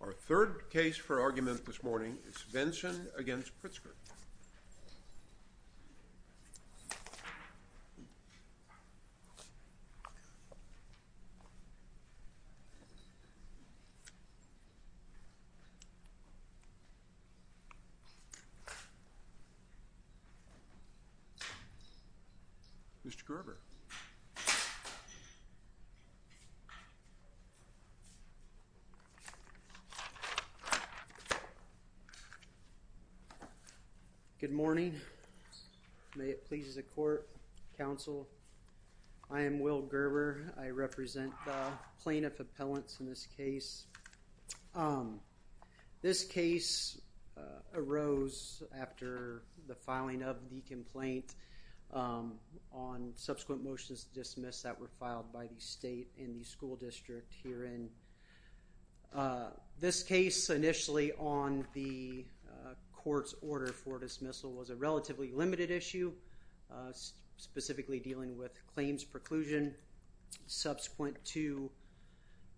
Our third case for argument this morning is Svendsen v. Pritzker. Mr. Gerber. Good morning. May it please the court, counsel. I am Will Gerber. I represent plaintiff appellants in this case. This case arose after the filing of the complaint on subsequent motions dismissed that were filed by the state and the school district herein. This case, initially on the court's order for dismissal, was a relatively limited issue, specifically dealing with claims preclusion. Subsequent to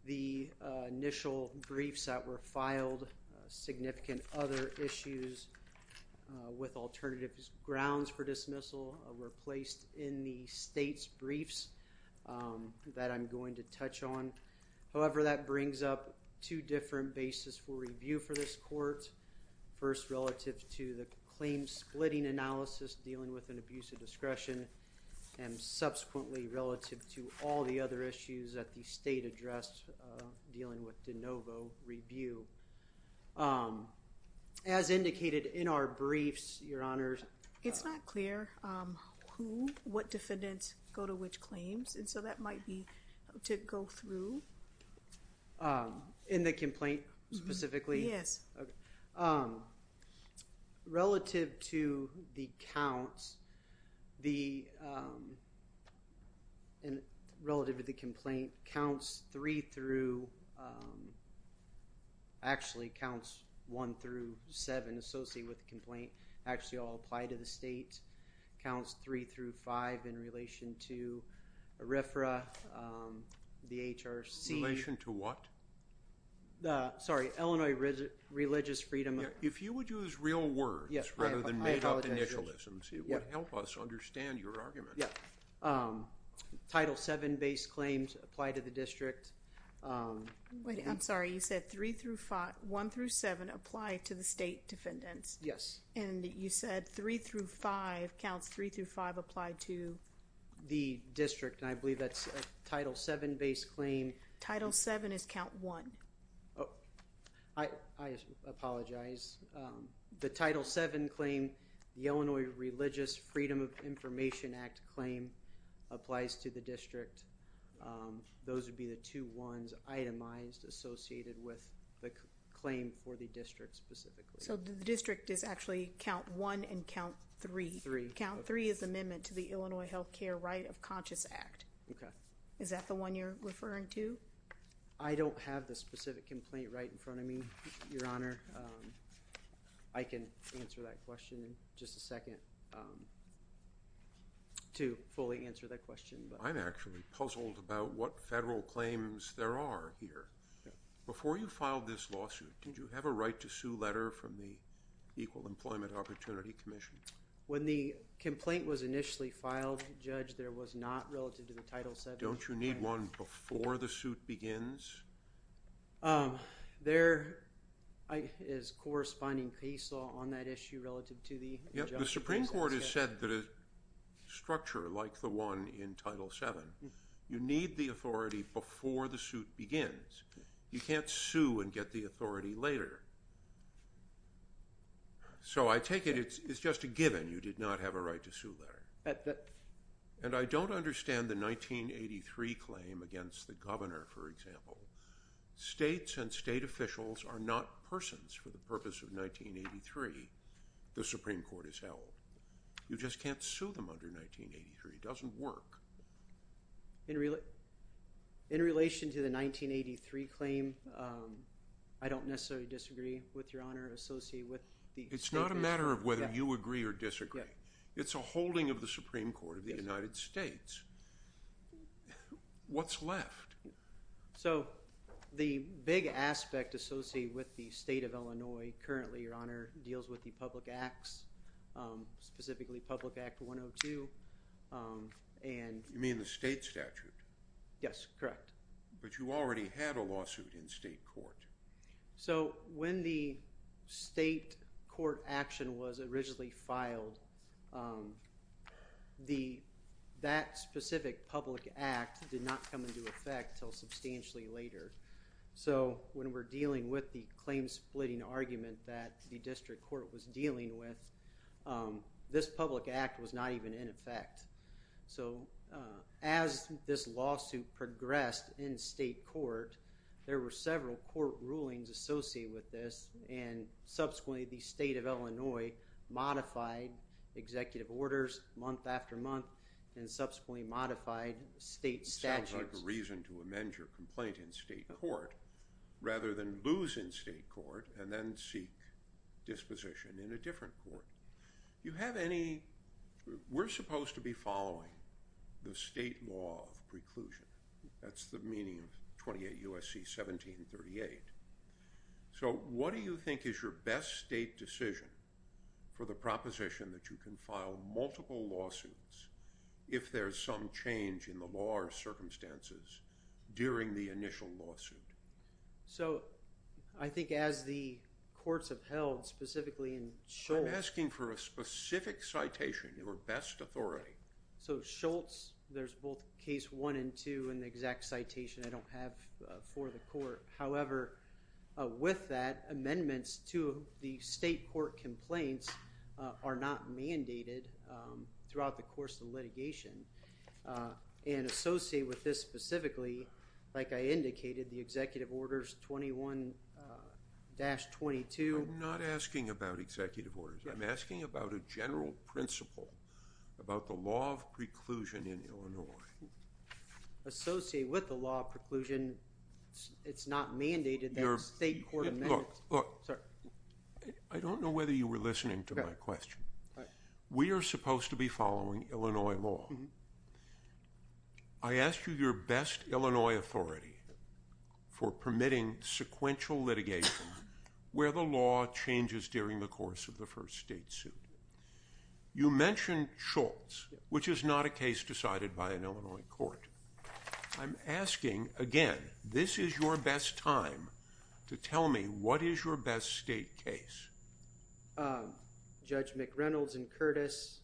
the initial briefs that were filed, significant other issues with alternative grounds for dismissal were placed in the state's briefs that I'm going to touch on. However, that brings up two different bases for review for this court, first relative to the claim splitting analysis dealing with an abuse of discretion, and subsequently relative to all the other issues that the state addressed dealing with de novo review. As indicated in our briefs, your honors. It's not clear who, what defendants go to which claims, and so that might be to go through. In the complaint specifically? Yes. Okay. Relative to the counts, and relative to the complaint, counts three through, actually counts one through seven associated with the complaint actually all apply to the state, counts three through five in relation to RFRA, the HRC. In relation to what? The, sorry, Illinois Religious Freedom. If you would use real words rather than made up initialisms, it would help us understand your argument. Yeah. Title seven base claims apply to the district. Wait, I'm sorry, you said three through five, one through seven apply to the state defendants? Yes. And you said three through five, counts three through five apply to the district, and I believe that's a title seven base claim. Title seven is count one. I apologize. The title seven claim, the Illinois Religious Freedom of Information Act claim applies to the district. Those would be the two ones itemized associated with the claim for the district specifically. So the district is actually count one and count three. Three. Count three is the Illinois Health Care Right of Conscious Act. Okay. Is that the one you're referring to? I don't have the specific complaint right in front of me, Your Honor. I can answer that question in just a second to fully answer that question. I'm actually puzzled about what federal claims there are here. Before you filed this lawsuit, did you have a right to sue letter from the Equal Employment Opportunity Commission? When the complaint was initially filed, Judge, there was not relative to the title seven. Don't you need one before the suit begins? There is corresponding case law on that issue relative to the... The Supreme Court has said that a structure like the one in title seven, you need the authority before the suit begins. You can't sue and get the authority later. So I take it it's just a given you did not have a right to sue letter. And I don't understand the 1983 claim against the governor, for example. States and state officials are not persons for the purpose of 1983. The Supreme Court has held. You just can't do that. It doesn't work. In relation to the 1983 claim, I don't necessarily disagree with Your Honor. It's not a matter of whether you agree or disagree. It's a holding of the Supreme Court of the United States. What's left? So the big aspect associated with the state of Illinois currently, Your Honor, deals with the public acts, specifically Public Act 102. You mean the state statute? Yes, correct. But you already had a lawsuit in state court. So when the state court action was originally filed, that specific public act did not come into effect until substantially later. So when we're dealing with the claim splitting argument that the district court was dealing with, this public act was not even in effect. So as this lawsuit progressed in state court, there were several court rulings associated with this. And subsequently, the state of Illinois modified executive orders month after month and subsequently modified state statutes. It sounds like a reason to amend your complaint in state court rather than lose in state court and then seek disposition in a different court. We're supposed to be following the state law of preclusion. That's the meaning of 28 U.S.C. 1738. So what do you think is your best state decision for the proposition that you can file multiple lawsuits if there's some change in the law or circumstances during the initial lawsuit? So I think as the courts have held, specifically in Schultz— I'm asking for a specific citation, your best authority. So Schultz, there's both case one and two in the exact citation. I don't have for the court. However, with that, amendments to the state court complaints are not mandated throughout the course of litigation. And associated with this specifically, like I indicated, the executive orders 21-22— I'm not asking about executive orders. I'm asking about a general principle about the law of preclusion in Illinois. Associated with the law of preclusion, it's not mandated that state court amendments— Look, look, I don't know whether you were listening to my question. We are supposed to be following Illinois law. I asked you your best Illinois authority for permitting sequential litigation where the law changes during the course of the first state suit. You mentioned Schultz, which is not a case decided by an Illinois court. I'm asking, again, this is your best time to tell me what is your best state case. Judge McReynolds and Curtis,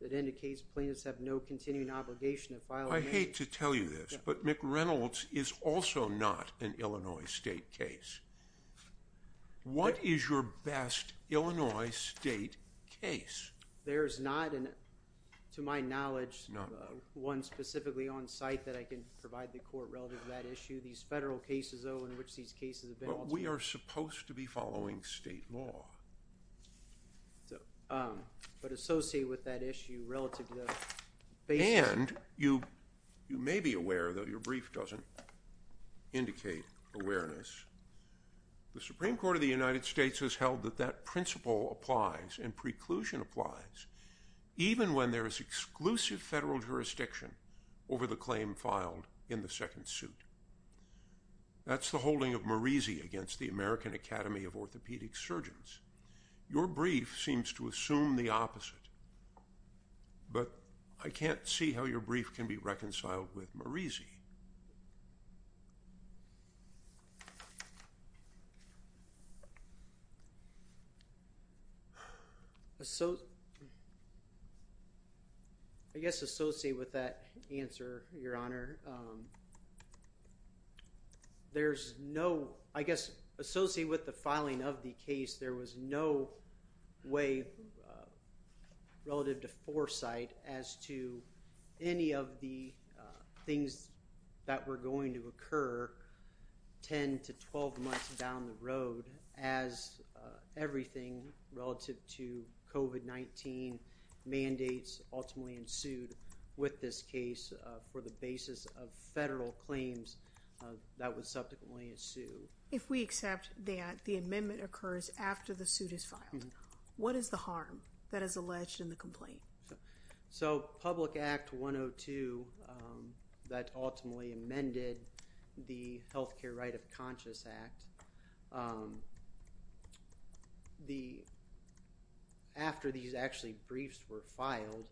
it indicates plaintiffs have no continuing obligation to file— I hate to tell you this, but McReynolds is also not an Illinois state case. What is your best Illinois state case? There is not, to my knowledge, one specifically on site that I can provide the court relative to that issue. These federal cases, though, in which these cases have been— But we are supposed to be following state law. But associated with that issue, relative to the— And you may be aware, though your brief doesn't indicate awareness, the Supreme Court of the United States has held that that principle applies and preclusion applies even when there is exclusive federal jurisdiction over the claim filed in the second suit. That's the holding of Merisi against the American Academy of Orthopedic Surgeons. Your brief seems to assume the opposite, but I can't see how your brief can be reconciled with Merisi. I guess associated with that answer, Your Honor, there's no—I guess associated with the filing of the case, there was no way relative to foresight as to any of the things that were going to occur 10 to 12 months down the road as everything relative to COVID-19 mandates ultimately ensued with this case for the basis of federal claims that would subsequently ensue. If we accept that the amendment occurs after the suit is filed, what is the harm that is alleged in the complaint? So, Public Act 102 that ultimately amended the Healthcare Right of Conscious Act, after these actually briefs were filed,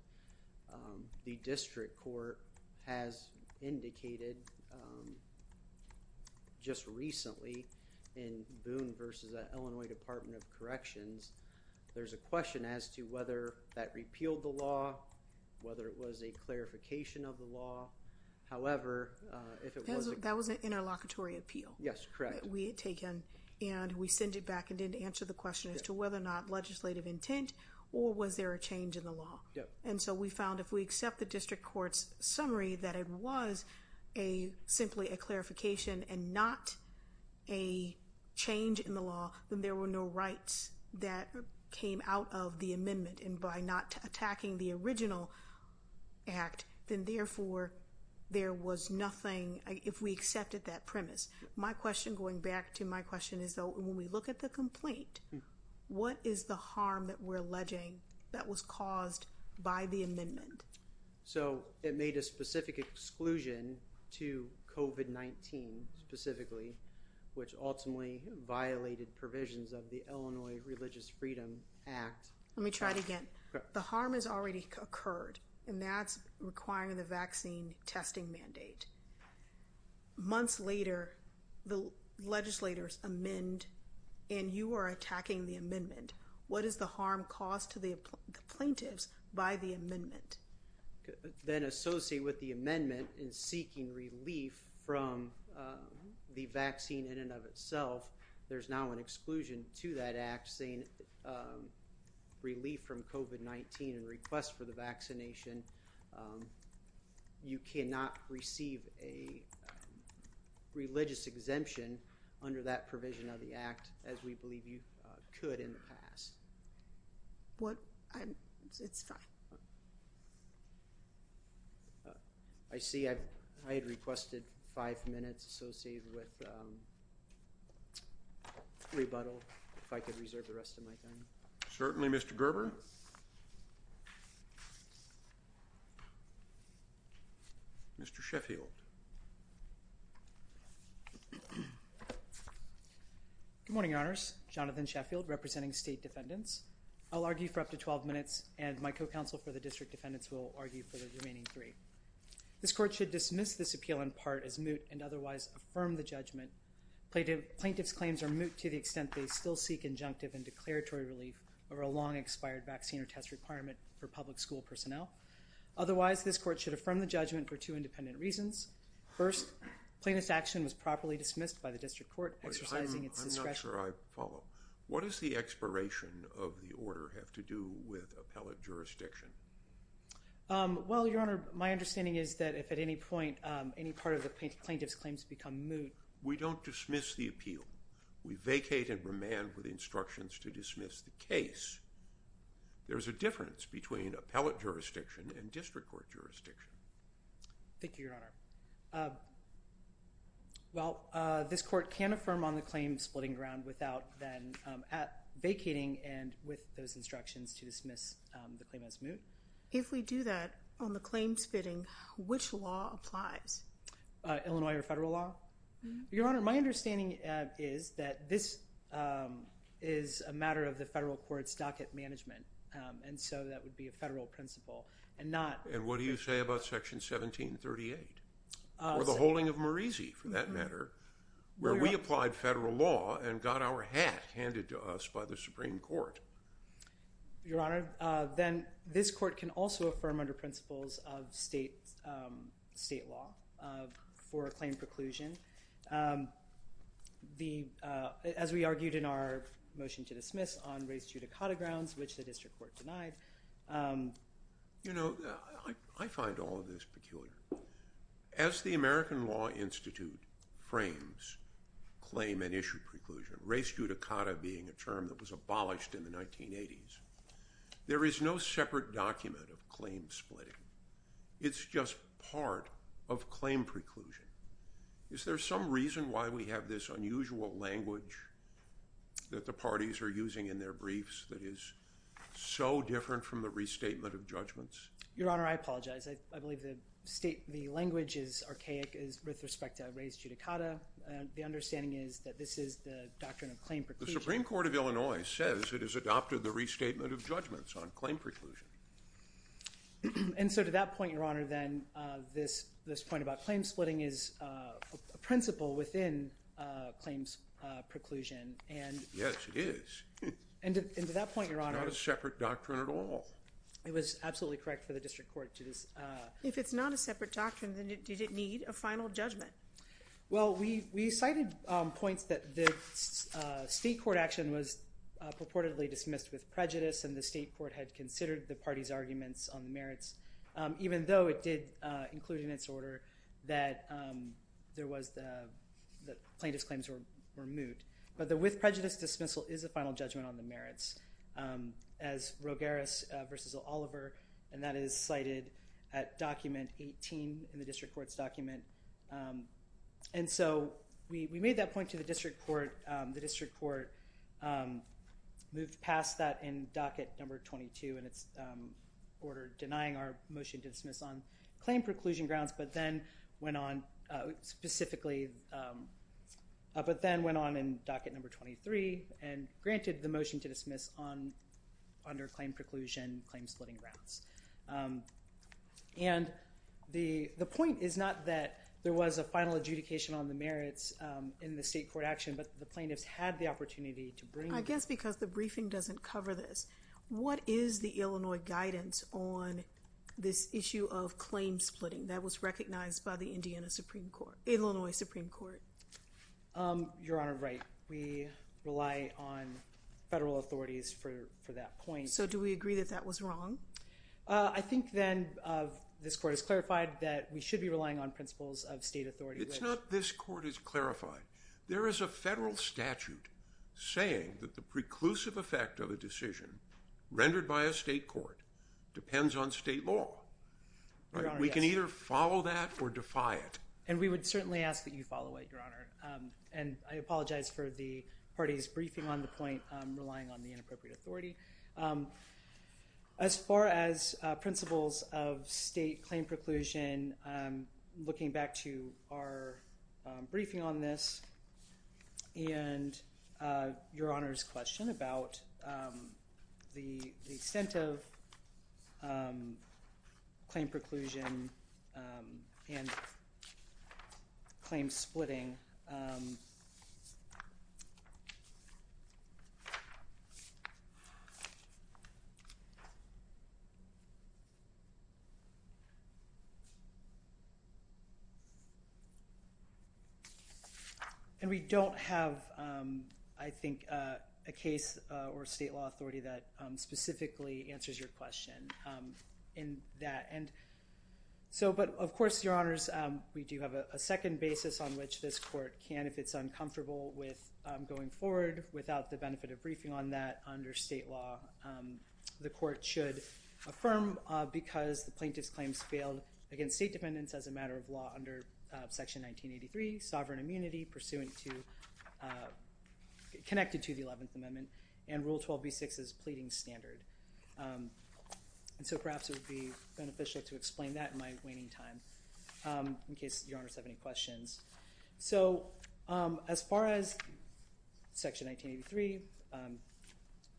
the district court has indicated just recently in Boone v. Illinois Department of Corrections, there's a question as to whether that repealed the law, whether it was a clarification of the law. However, if it was— That was an interlocutory appeal. Yes, correct. We had taken and we sent it back and didn't answer the question as to whether or not legislative intent or was there a change in the law. And so we found if we accept the district court's summary that it was simply a clarification and not a change in the law, then there were no rights that came out of the amendment. And by not attacking the original act, then therefore there was nothing— if we accepted that premise. My question, going back to my question, is though when we look at the complaint, what is the harm that we're alleging that was caused by the amendment? So it made a specific exclusion to COVID-19 specifically, which ultimately violated provisions of the Illinois Religious Freedom Act. Let me try it again. The harm has already occurred and that's requiring the vaccine testing mandate. Months later, the legislators amend and you are attacking the amendment. What is the harm caused to the plaintiffs by the amendment? Then associate with the amendment in seeking relief from the vaccine in and of itself. There's now an exclusion to that act saying relief from COVID-19 and request for the vaccination. You cannot receive a religious exemption under that provision of the act as we believe you could in the past. What? It's fine. I see I had requested five minutes associated with rebuttal if I could reserve the rest of my time. Certainly, Mr. Gerber. Mr. Sheffield. Good morning, Your Honors. Jonathan Sheffield representing State Defendants. I'll argue for up to 12 minutes and my co-counsel for the District Defendants will argue for the remaining three. This court should dismiss this appeal in part as moot and otherwise affirm the judgment. Plaintiff's claims are moot to the extent they still seek injunctive and declaratory relief over a long expired vaccine or test requirement for public school personnel. Otherwise, this court should affirm the judgment for two independent reasons. First, plaintiff's action was properly dismissed by the District Court exercising its discretion. I'm not sure I follow. What does the expiration of the order have to do with appellate jurisdiction? Well, Your Honor, my understanding is that if at any point any part of the plaintiff's claims become moot... We don't dismiss the appeal. We vacate and remand with instructions to dismiss the case. There's a difference between appellate jurisdiction and District Court jurisdiction. Thank you, Your Honor. Well, this court can affirm on the claim splitting ground without then vacating and with those instructions to dismiss the claim as moot. If we do that on the claims spitting, which law applies? Illinois or federal law? Your Honor, my understanding is that this is a matter of the federal court's docket management. And so that would be a federal principle and not... And what do you say about Section 1738? Or the holding of Moreezy, for that matter, where we applied federal law and got our hat handed to us by the Supreme Court. Your Honor, then this court can also affirm under principles of state law for a claim preclusion. As we argued in our motion to dismiss on race judicata grounds, which the District Court denied. You know, I find all of this peculiar. As the American Law Institute frames claim and issue preclusion, race judicata being a term that was abolished in the 1980s. There is no separate document of claim splitting. It's just part of claim preclusion. Is there some reason why we have this unusual language that the parties are using in their briefs that is so different from the restatement of judgments? Your Honor, I apologize. I believe the language is archaic with respect to race judicata. The understanding is that this is the doctrine of claim preclusion. The Supreme Court of Illinois says it has adopted the restatement of judgments on claim preclusion. And so to that point, Your Honor, then this point about claim splitting is a principle within claims preclusion and... Yes, it is. And to that point, Your Honor... It's not a separate doctrine at all. It was absolutely correct for the District Court to just... If it's not a separate doctrine, then did it need a final judgment? Well, we cited points that the state court action was purportedly dismissed with prejudice and the state court had considered the party's arguments on the merits, even though it did include in its order that plaintiff's claims were moot. But the with prejudice dismissal is a final judgment on the merits. As Rogueras v. Oliver, and that is cited at document 18 in the District Court's document, and so we made that point to the District Court. The District Court moved past that in docket number 22, and it's ordered denying our motion to dismiss on claim preclusion grounds, but then went on specifically... But then went on in docket number 23 and granted the motion to dismiss under claim preclusion, claim splitting grounds. And the point is not that there was a final adjudication on the merits in the state court action, but the plaintiffs had the opportunity to bring... I guess because the briefing doesn't cover this. What is the Illinois guidance on this issue of claim splitting that was recognized by the Illinois Supreme Court? Your Honor, right. We rely on federal authorities for that point. So do we agree that that was wrong? I think then this court has clarified that we should be relying on principles of state authority. It's not this court has clarified. There is a federal statute saying that the preclusive effect of a decision rendered by a state court depends on state law. We can either follow that or defy it. And we would certainly ask that you follow it, Your Honor. And I apologize for the party's briefing on the point, relying on the inappropriate authority. As far as principles of state claim preclusion, looking back to our briefing on this, and Your Honor's question about the extent of claim preclusion and claim splitting, we don't have, I think, a case or state law authority that specifically answers your question in that. And so, but of course, Your Honors, we do have a second basis on which this court can, if it's uncomfortable with going forward without the benefit of briefing on that under state law, the court should affirm because the plaintiff's claims failed against state dependents as a matter of law under Section 1983, sovereign immunity pursuant to, connected to the 11th Amendment and Rule 12b-6's pleading standard. And so perhaps it would be beneficial to explain that in my waning time, in case Your Honors have any questions. So as far as Section 1983,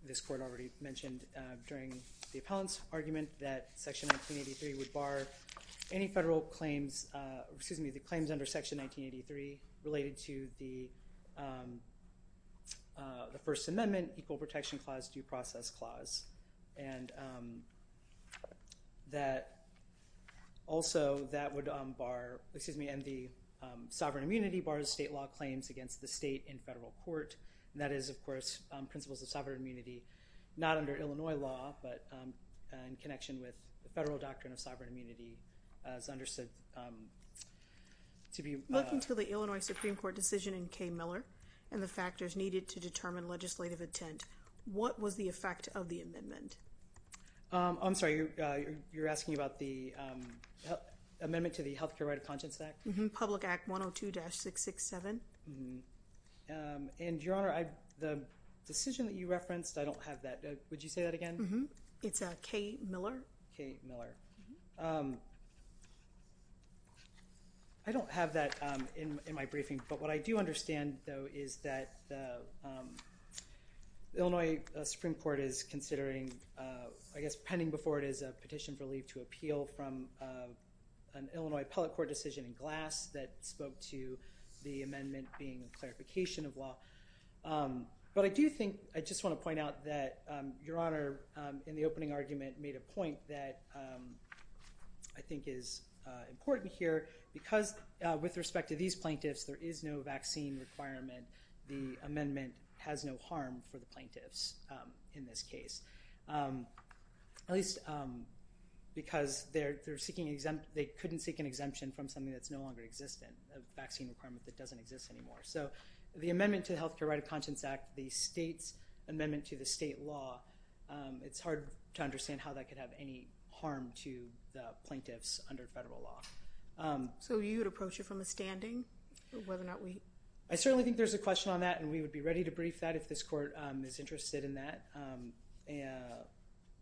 this court already mentioned during the appellant's argument that Section 1983 would bar any federal claims, excuse me, the claims under Section 1983 related to the First Amendment, Equal Protection Clause, Due Process Clause. And that also that would bar, excuse me, and the sovereign immunity bars state law claims against the state in federal court. And that is, of course, principles of sovereign immunity, not under Illinois law, but in connection with the federal doctrine of sovereign immunity as understood to be- Looking to the Illinois Supreme Court decision in K. Miller and the factors needed to determine legislative intent, what was the effect of the amendment? I'm sorry, you're asking about the amendment to the Healthcare Right of Conscience Act? Public Act 102-667. And Your Honor, the decision that you referenced, I don't have that. Would you say that again? It's K. Miller. K. Miller. I don't have that in my briefing, but what I do understand, though, is that the Illinois Supreme Court is considering, I guess, pending before it is a petition for leave to appeal from an Illinois appellate court decision in Glass that spoke to the amendment being a clarification of law. But I do think, I just want to point out that Your Honor, in the opening argument, made a point that I think is important here because with respect to these plaintiffs, there is no vaccine requirement. The amendment has no harm for the plaintiffs in this case, at least because they couldn't seek an exemption from something that's no longer existent, a vaccine requirement that doesn't exist anymore. So the amendment to the Healthcare Right of Conscience Act, the state's amendment to the state law, it's hard to understand how that could have any harm to the plaintiffs under federal law. So you would approach it from a standing? I certainly think there's a question on that and we would be ready to brief that if this court is interested in that.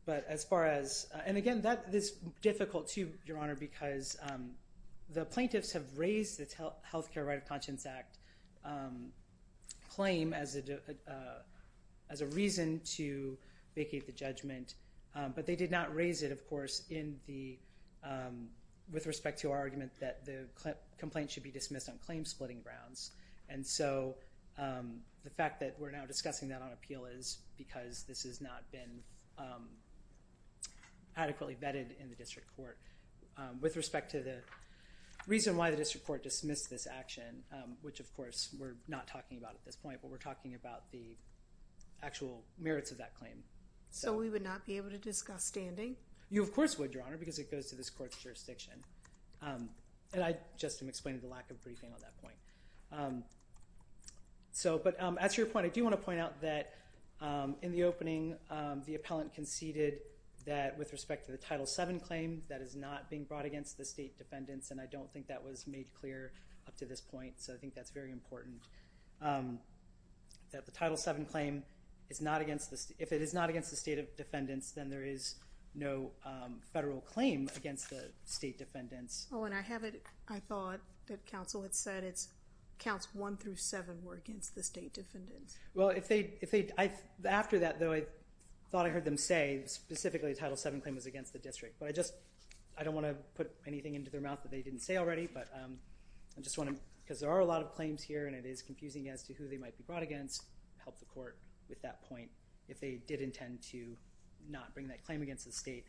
But as far as, and again, that is difficult too, Your Honor, because the plaintiffs have raised the Healthcare Right of Conscience Act claim as a reason to vacate the judgment, but they did not raise it, of course, with respect to our argument that the complaint should be dismissed on claim-splitting grounds. And so the fact that we're now discussing that on appeal is because this has not been adequately vetted in the district court. With respect to the reason why the district court dismissed this action, which of course we're not talking about at this point, but we're talking about the actual merits of that claim. So we would not be able to discuss standing? You of course would, Your Honor, because it goes to this court's jurisdiction. And I just am explaining the lack of briefing on that point. But that's your point. I do want to point out that in the opening, the appellant conceded that with respect to the Title VII claim, that is not being brought against the state defendants. And I don't think that was made clear up to this point. So I think that's very important. That the Title VII claim is not against the, if it is not against the state of defendants, then there is no federal claim against the state defendants. Oh, and I thought that counsel had said it's counts one through seven were against the state defendants. Well, if they, after that though, I thought I heard them say specifically the Title VII claim was against the district. But I just, I don't want to put anything into their mouth that they didn't say already, but I just want to, because there are a lot of claims here and it is confusing as to who they might be brought against, help the court with that point if they did intend to not bring that claim against the state.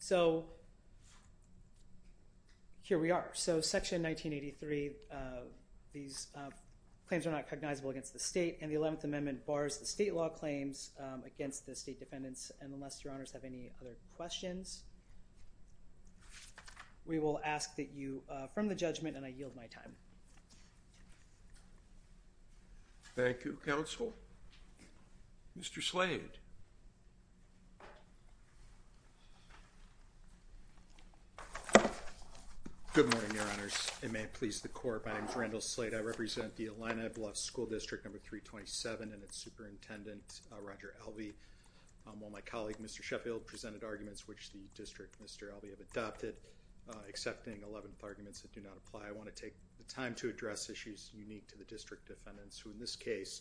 So here we are. So Section 1983, these claims are not cognizable against the state and the 11th Amendment bars the state law claims against the state defendants. And unless your honors have any other questions, we will ask that you, from the judgment, and I yield my time. Thank you, counsel. Mr. Slade. Good morning, your honors. It may please the court. My name is Randall Slade. I represent the Illini Bluffs School District Number 327 and its superintendent, Roger Alvey. While my colleague, Mr. Sheffield, presented arguments which the district, Mr. Alvey, have adopted, accepting 11th arguments that do not apply, I want to take the time to address issues unique to the district defendants, who in this case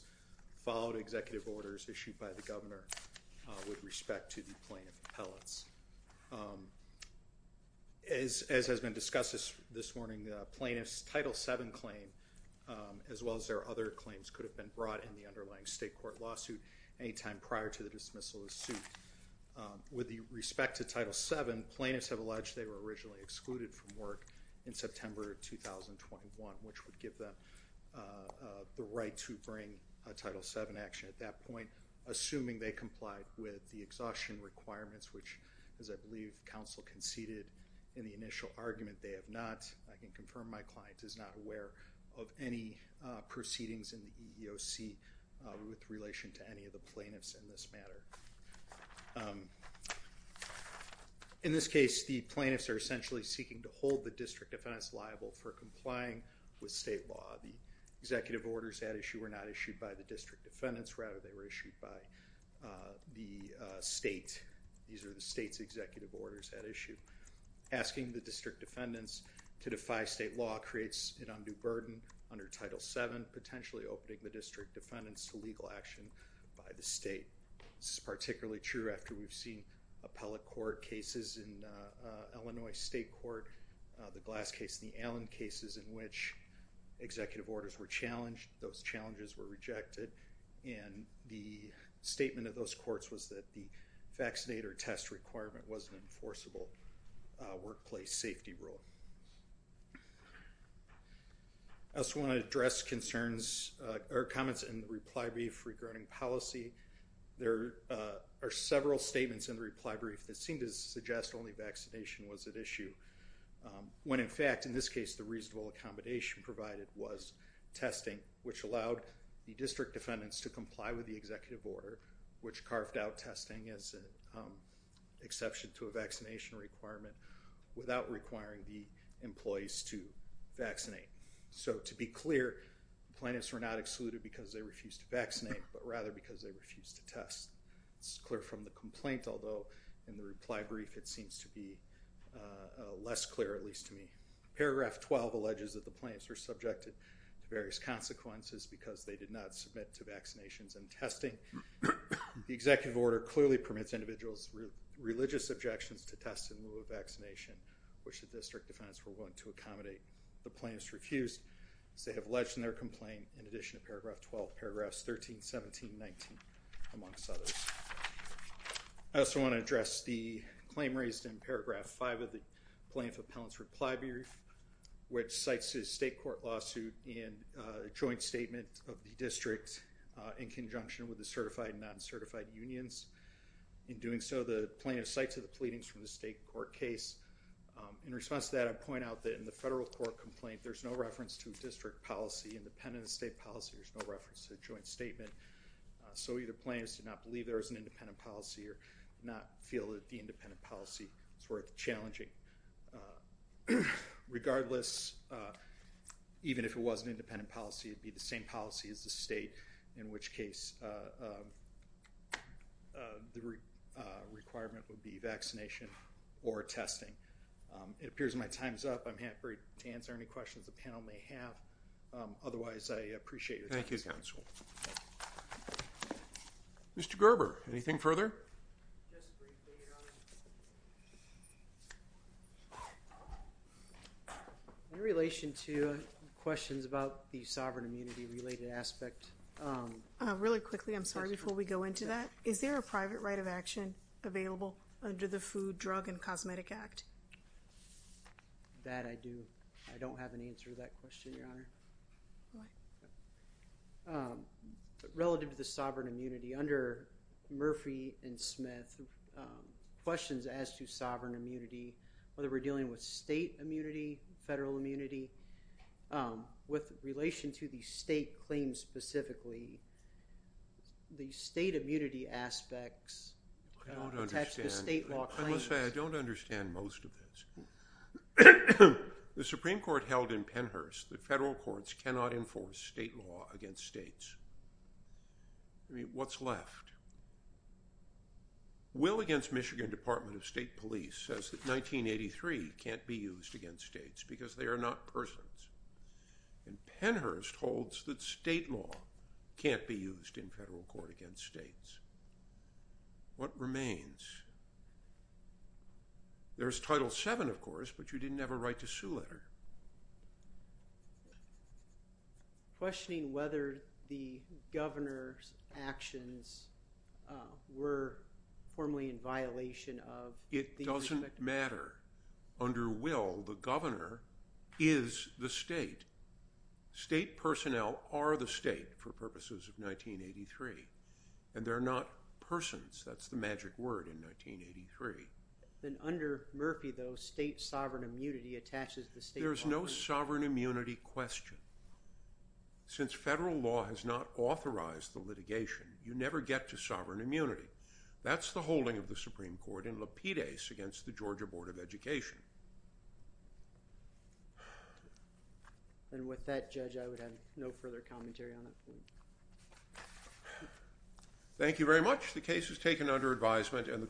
followed executive orders issued by the governor with respect to the plaintiff appellates. As has been discussed this morning, the plaintiff's Title VII claim, as well as their other claims, could have been brought in the underlying state court lawsuit any time prior to the dismissal of the suit. With the respect to Title VII, plaintiffs have alleged they were originally excluded from work in September of 2021, which would give them the right to bring a Title VII action at that point. Assuming they complied with the exhaustion requirements, which, as I believe, counsel conceded in the initial argument, they have not. I can confirm my client is not aware of any proceedings in the EEOC with relation to any of the plaintiffs in this matter. In this case, the plaintiffs are essentially seeking to hold the district defendants liable for complying with state law. The executive orders at issue were not issued by the district defendants. Rather, they were issued by the state. These are the state's executive orders at issue. Asking the district defendants to defy state law creates an undue burden under Title VII, potentially opening the district defendants to legal action by the state. This is particularly true after we've seen appellate court cases in Illinois State Court, the Glass case, the Allen cases in which executive orders were challenged. Those challenges were rejected. And the statement of those courts was that the vaccinator test requirement was an enforceable workplace safety rule. I just want to address concerns or comments in the reply brief regarding policy. There are several statements in the reply brief that seem to suggest only vaccination was at issue. When in fact, in this case, the reasonable accommodation provided was testing, which allowed the district defendants to comply with the executive order, which carved out testing as an exception to a vaccination requirement without requiring the employees to vaccinate. So to be clear, plaintiffs were not excluded because they refused to vaccinate, but rather because they refused to test. It's clear from the complaint, although in the reply brief, it seems to be less clear, at least to me. Paragraph 12 alleges that the plaintiffs were subjected to various consequences because they did not submit to vaccinations and testing. The executive order clearly permits individuals religious objections to test in lieu of vaccination, which the district defendants were willing to accommodate. The plaintiffs refused as they have alleged in their complaint, in addition to paragraph 12, paragraphs 13, 17, 19, amongst others. I also want to address the claim raised in paragraph five of the plaintiff appellant's reply brief, which cites his state court lawsuit in a joint statement of the district in conjunction with the certified and non-certified unions. In doing so, the plaintiff cites the pleadings from the state court case. In response to that, I point out that in the federal court complaint, there's no reference to a district policy independent of state policy. There's no reference to a joint statement. So either plaintiffs did not believe there was an independent policy or not feel that the independent policy is worth challenging. Regardless, even if it was an independent policy, it'd be the same policy as the state, in which case the requirement would be vaccination or testing. It appears my time's up. I'm happy to answer any questions the panel may have. Otherwise, I appreciate it. Thank you, counsel. Mr. Gerber, anything further? In relation to questions about the sovereign immunity related aspect. Really quickly, I'm sorry, before we go into that, is there a private right of action available under the Food, Drug, and Cosmetic Act? That I do. I don't have an answer to that question, Your Honor. Relative to the sovereign immunity, under Murphy and Smith, questions as to sovereign immunity that we're dealing with state immunity, federal immunity, with relation to the state claims specifically, the state immunity aspects don't attach to state law claims. I don't understand most of this. The Supreme Court held in Pennhurst that federal courts cannot enforce state law against states. I mean, what's left? Will against Michigan Department of State Police says that 1983 can't be used against states because they are not persons. And Pennhurst holds that state law can't be used in federal court against states. What remains? There's Title VII, of course, but you didn't have a right to sue letter. Questioning whether the governor's actions were formally in violation of- It doesn't matter. Under Will, the governor is the state. State personnel are the state for purposes of 1983. And they're not persons. That's the magic word in 1983. Then under Murphy, though, state sovereign immunity attaches- There's no sovereign immunity question. Since federal law has not authorized the litigation, you never get to sovereign immunity. That's the holding of the Supreme Court. against the Georgia Board of Education. And with that, Judge, I would have no further commentary on it. Thank you very much. The case is taken under advisement and the court-